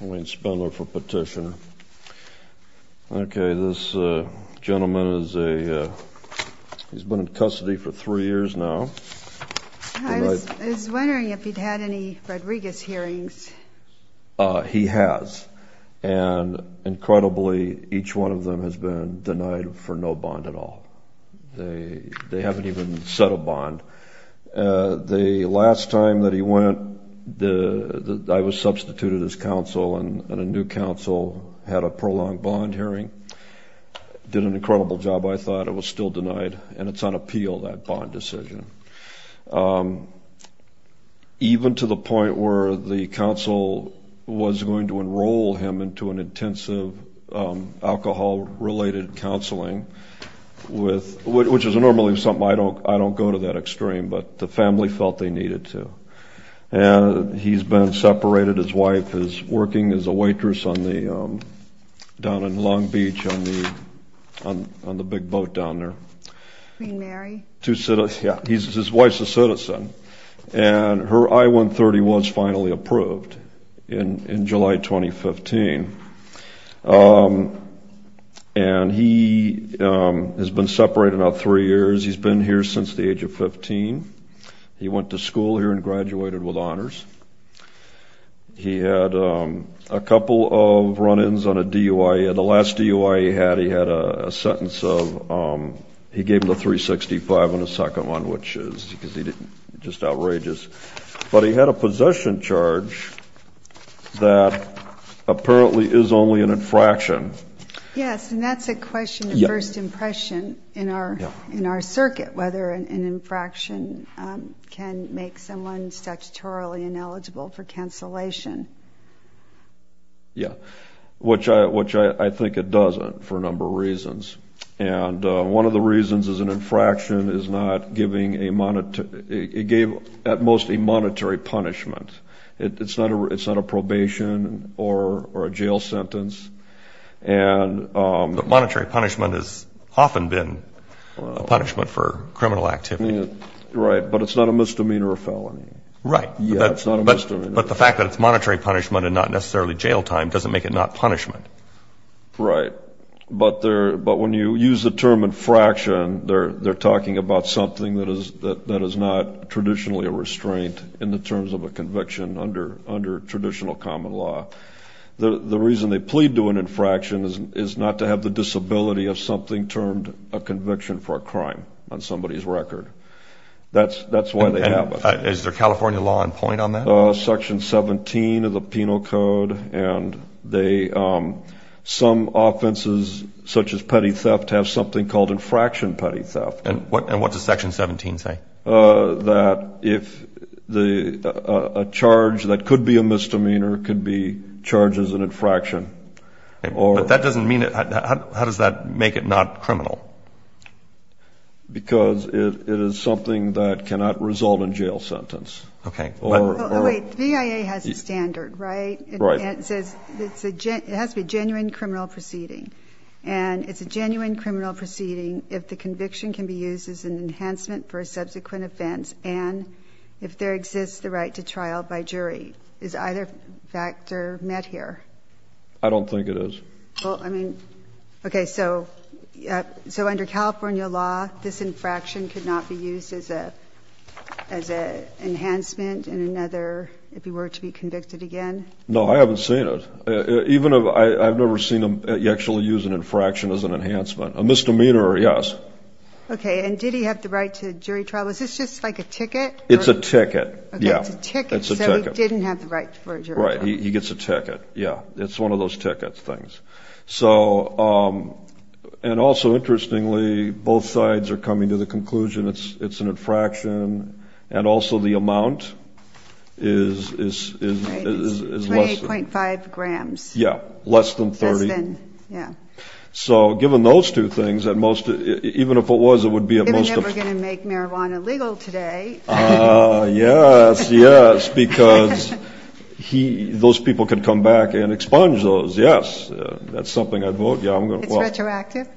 Wayne Spindler for petition. Okay, this gentleman is a... He's been in custody for three years now. I was wondering if he'd had any Rodriguez hearings. He has. And, incredibly, each one of them has been denied for no bond at all. They haven't even set a bond. The last time that he went, I was substituted as counsel, and a new counsel had a prolonged bond hearing. Did an incredible job, I thought. It was still denied, and it's on appeal, that bond decision. Even to the point where the counsel was going to enroll him into an intensive alcohol-related counseling, which is normally something I don't go to that extreme, but the family felt they needed to. And he's been separated. His wife is working as a waitress down in Long Beach on the big boat down there. Queen Mary? Yeah, his wife's a citizen. And her I-130 was finally approved in July 2015. And he has been separated about three years. He's been here since the age of 15. He went to school here and graduated with honors. He had a couple of run-ins on a DUIA. The last DUIA he had, he had a sentence of... He gave him a 365 on the second one, which is just outrageous. But he had a possession charge that apparently is only an infraction. Yes, and that's a question of first impression in our circuit, whether an infraction can make someone statutorily ineligible for cancellation. Yeah, which I think it doesn't for a number of reasons. And one of the reasons is an infraction is not giving a monetary – it gave at most a monetary punishment. It's not a probation or a jail sentence. But monetary punishment has often been a punishment for criminal activity. Right, but it's not a misdemeanor or felony. Right, but the fact that it's monetary punishment and not necessarily jail time doesn't make it not punishment. Right, but when you use the term infraction, they're talking about something that is not traditionally a restraint in the terms of a conviction under traditional common law. The reason they plead to an infraction is not to have the disability of something termed a conviction for a crime on somebody's record. That's why they have it. Is there California law in point on that? Section 17 of the Penal Code, and they – some offenses such as petty theft have something called infraction petty theft. And what does Section 17 say? That if a charge that could be a misdemeanor could be charged as an infraction. But that doesn't mean – how does that make it not criminal? Because it is something that cannot result in jail sentence. Okay. Wait, the BIA has a standard, right? Right. It says it has to be a genuine criminal proceeding, and it's a genuine criminal proceeding if the conviction can be used as an enhancement for a subsequent offense and if there exists the right to trial by jury. Is either factor met here? I don't think it is. Well, I mean, okay, so under California law, this infraction could not be used as an enhancement in another – if he were to be convicted again? No, I haven't seen it. Even if I've never seen him actually use an infraction as an enhancement. A misdemeanor, yes. Okay, and did he have the right to jury trial? Is this just like a ticket? It's a ticket, yeah. Okay, it's a ticket, so he didn't have the right for a jury trial. Right, he gets a ticket, yeah. It's one of those ticket things. And also, interestingly, both sides are coming to the conclusion it's an infraction, and also the amount is less than. Right, it's 28.5 grams. Yeah, less than 30. Less than, yeah. So given those two things, even if it was, it would be at most a – Given that we're going to make marijuana legal today. Yes, yes, because those people could come back and expunge those, yes. That's something I'd vote, yeah. It's retroactive?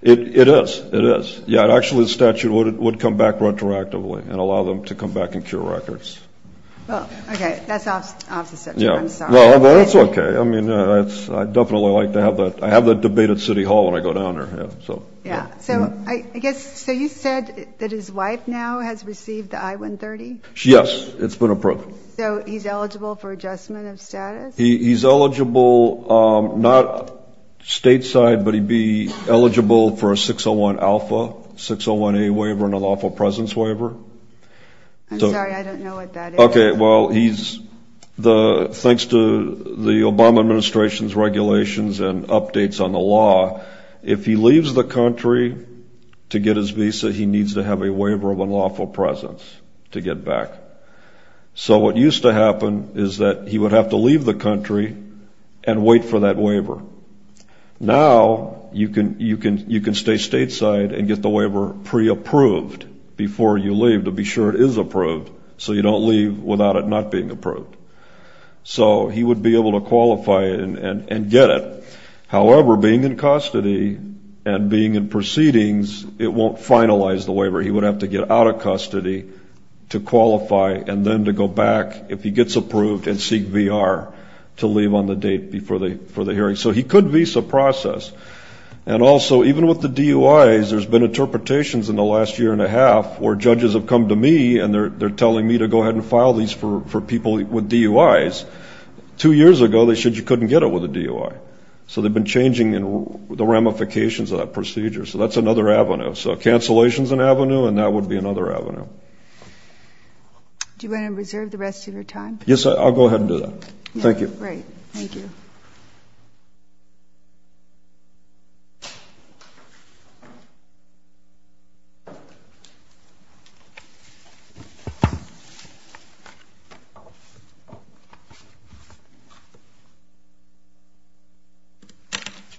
It is, it is. Yeah, actually the statute would come back retroactively and allow them to come back and cure records. Well, okay, that's off the statute. I'm sorry. Well, that's okay. I mean, I definitely like to have that – I have that debate at City Hall when I go down there. Yeah, so I guess – so you said that his wife now has received the I-130? Yes, it's been approved. So he's eligible for adjustment of status? He's eligible not stateside, but he'd be eligible for a 601 alpha, 601A waiver, and an alpha presence waiver. I'm sorry, I don't know what that is. Okay, well, he's – thanks to the Obama administration's regulations and updates on the law, if he leaves the country to get his visa, he needs to have a waiver of an alpha presence to get back. So what used to happen is that he would have to leave the country and wait for that waiver. Now you can stay stateside and get the waiver pre-approved before you leave to be sure it is approved so you don't leave without it not being approved. So he would be able to qualify and get it. However, being in custody and being in proceedings, it won't finalize the waiver. He would have to get out of custody to qualify and then to go back, if he gets approved, and seek VR to leave on the date before the hearing. So he could visa process. And also, even with the DUIs, there's been interpretations in the last year and a half where judges have come to me and they're telling me to go ahead and file these for people with DUIs. Two years ago, they said you couldn't get it with a DUI. So they've been changing the ramifications of that procedure. So that's another avenue. So cancellation is an avenue, and that would be another avenue. Do you want to reserve the rest of your time? Yes, I'll go ahead and do that. Thank you. Great. Thank you.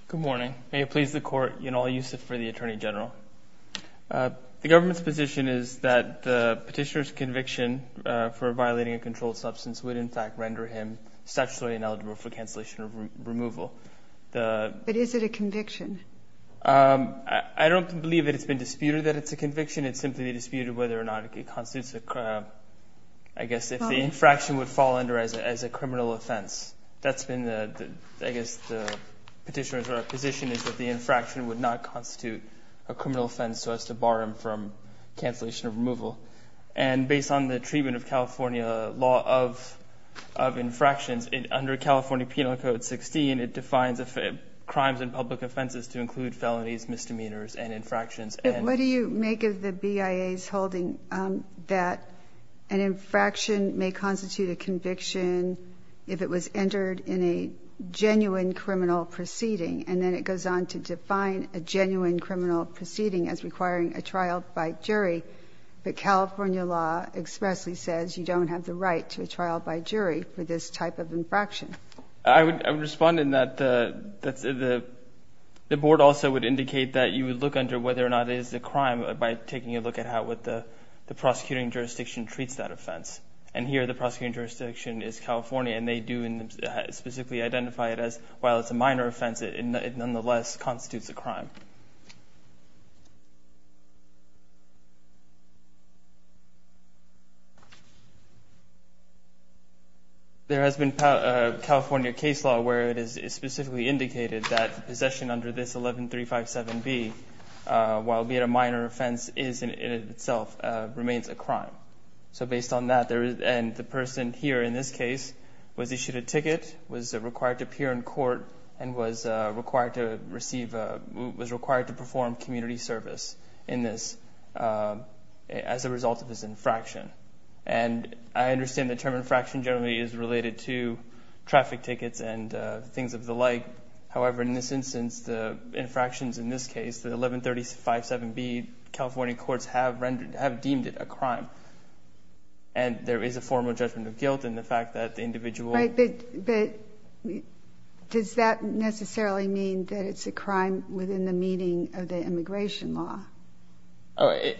Good morning. May it please the Court, in all use for the Attorney General. The government's position is that the petitioner's conviction for violating a controlled substance would, in fact, render him statutorily ineligible for cancellation of removal. But is it a conviction? I don't believe that it's been disputed that it's a conviction. It's simply disputed whether or not it constitutes, I guess, if the infraction would fall under as a criminal offense. I guess the petitioner's position is that the infraction would not constitute a criminal offense so as to bar him from cancellation of removal. And based on the treatment of California law of infractions, under California Penal Code 16, it defines crimes and public offenses to include felonies, misdemeanors, and infractions. What do you make of the BIA's holding that an infraction may constitute a conviction if it was entered in a genuine criminal proceeding? And then it goes on to define a genuine criminal proceeding as requiring a trial by jury. But California law expressly says you don't have the right to a trial by jury for this type of infraction. I would respond in that the Board also would indicate that you would look under whether or not it is a crime by taking a look at how the prosecuting jurisdiction treats that offense. And here the prosecuting jurisdiction is California, and they do specifically identify it as, while it's a minor offense, it nonetheless constitutes a crime. There has been California case law where it is specifically indicated that possession under this 11357B, while it may be a minor offense, is in itself remains a crime. So based on that, and the person here in this case was issued a ticket, was required to appear in court, and was required to receive, was required to be released on bail. He was required to perform community service in this as a result of his infraction. And I understand the term infraction generally is related to traffic tickets and things of the like. However, in this instance, the infractions in this case, the 11357B, California courts have deemed it a crime. And there is a formal judgment of guilt in the fact that the individual. Right, but does that necessarily mean that it's a crime within the meaning of the immigration law?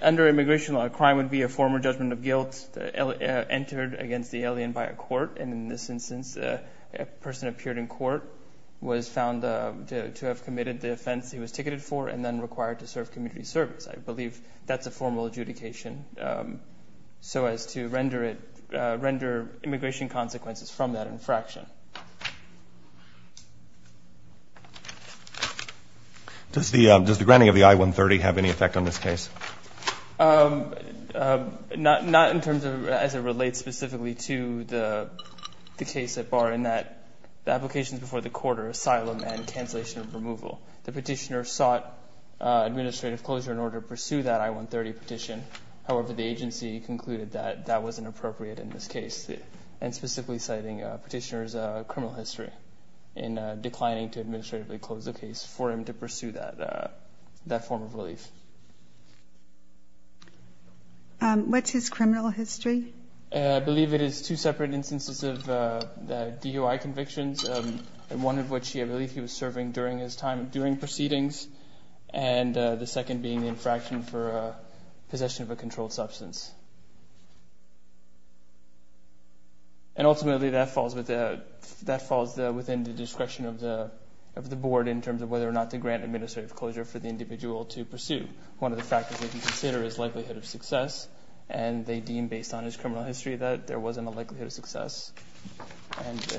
Under immigration law, a crime would be a former judgment of guilt entered against the alien by a court. And in this instance, a person appeared in court was found to have committed the offense he was ticketed for and then required to serve community service. I believe that's a formal adjudication so as to render it, render immigration consequences from that infraction. Does the granting of the I-130 have any effect on this case? Not in terms of as it relates specifically to the case at bar, in that the applications before the court are asylum and cancellation of removal. The petitioner sought administrative closure in order to pursue that I-130 petition. However, the agency concluded that that wasn't appropriate in this case, and specifically citing petitioner's criminal history in declining to administratively close the case for him to pursue that form of relief. What's his criminal history? I believe it is two separate instances of DUI convictions, one of which I believe he was serving during his time during proceedings, and the second being infraction for possession of a controlled substance. And ultimately, that falls within the discretion of the board in terms of whether or not to grant administrative closure for the individual to pursue. One of the factors they can consider is likelihood of success, and they deem based on his criminal history that there wasn't a likelihood of success.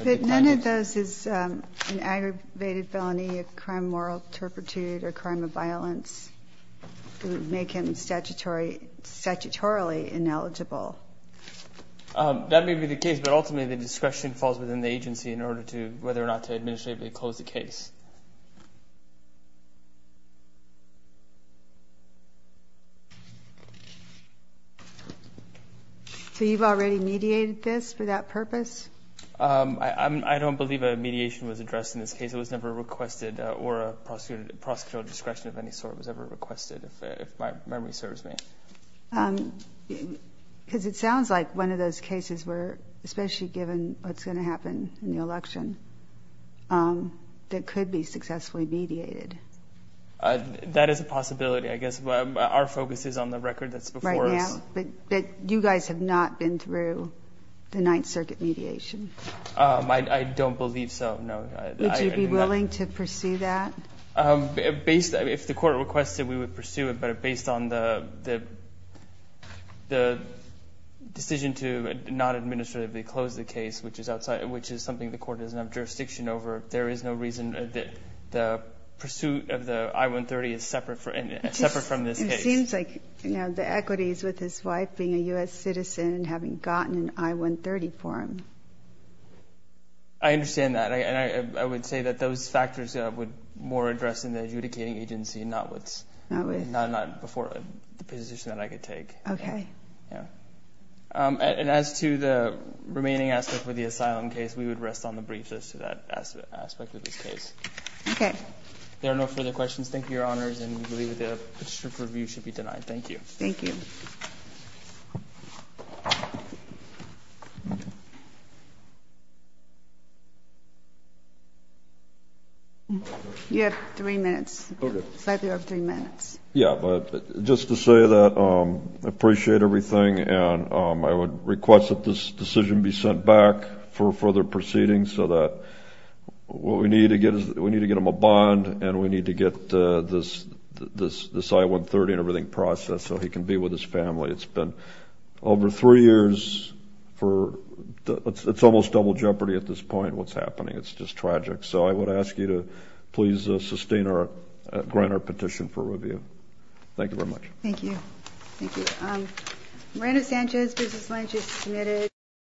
But none of those is an aggravated felony of crime of moral turpitude or crime of violence. It would make him statutorily ineligible. That may be the case, but ultimately the discretion falls within the agency in order to whether or not to administratively close the case. So you've already mediated this for that purpose? I don't believe a mediation was addressed in this case. It was never requested, or a prosecutorial discretion of any sort was ever requested, if my memory serves me. Because it sounds like one of those cases where, especially given what's going to happen in the election, that could be successfully mediated. That is a possibility. I guess our focus is on the record that's before us. But you guys have not been through the Ninth Circuit mediation? I don't believe so, no. Would you be willing to pursue that? If the court requested, we would pursue it. But based on the decision to not administratively close the case, which is something the court doesn't have jurisdiction over, there is no reason that the pursuit of the I-130 is separate from this case. It seems like the equities with his wife being a U.S. citizen and having gotten an I-130 for him. I understand that. And I would say that those factors would more address in the adjudicating agency, not before the position that I could take. Okay. And as to the remaining aspect with the asylum case, we would rest on the briefness of that aspect of this case. Okay. There are no further questions. Thank you, Your Honors. And we believe that the petition for review should be denied. Thank you. Thank you. You have three minutes. Okay. You have three minutes. Yeah. But just to say that I appreciate everything, and I would request that this decision be sent back for further proceedings so that what we need to get is we need to get him a bond and we need to get this I-130 and everything processed so he can be with his family. It's been over three years for it's almost double jeopardy at this point, what's happening. It's just tragic. So I would ask you to please sustain or grant our petition for review. Thank you very much. Thank you. Thank you. Miranda Sanchez, Business Alliance, is submitted.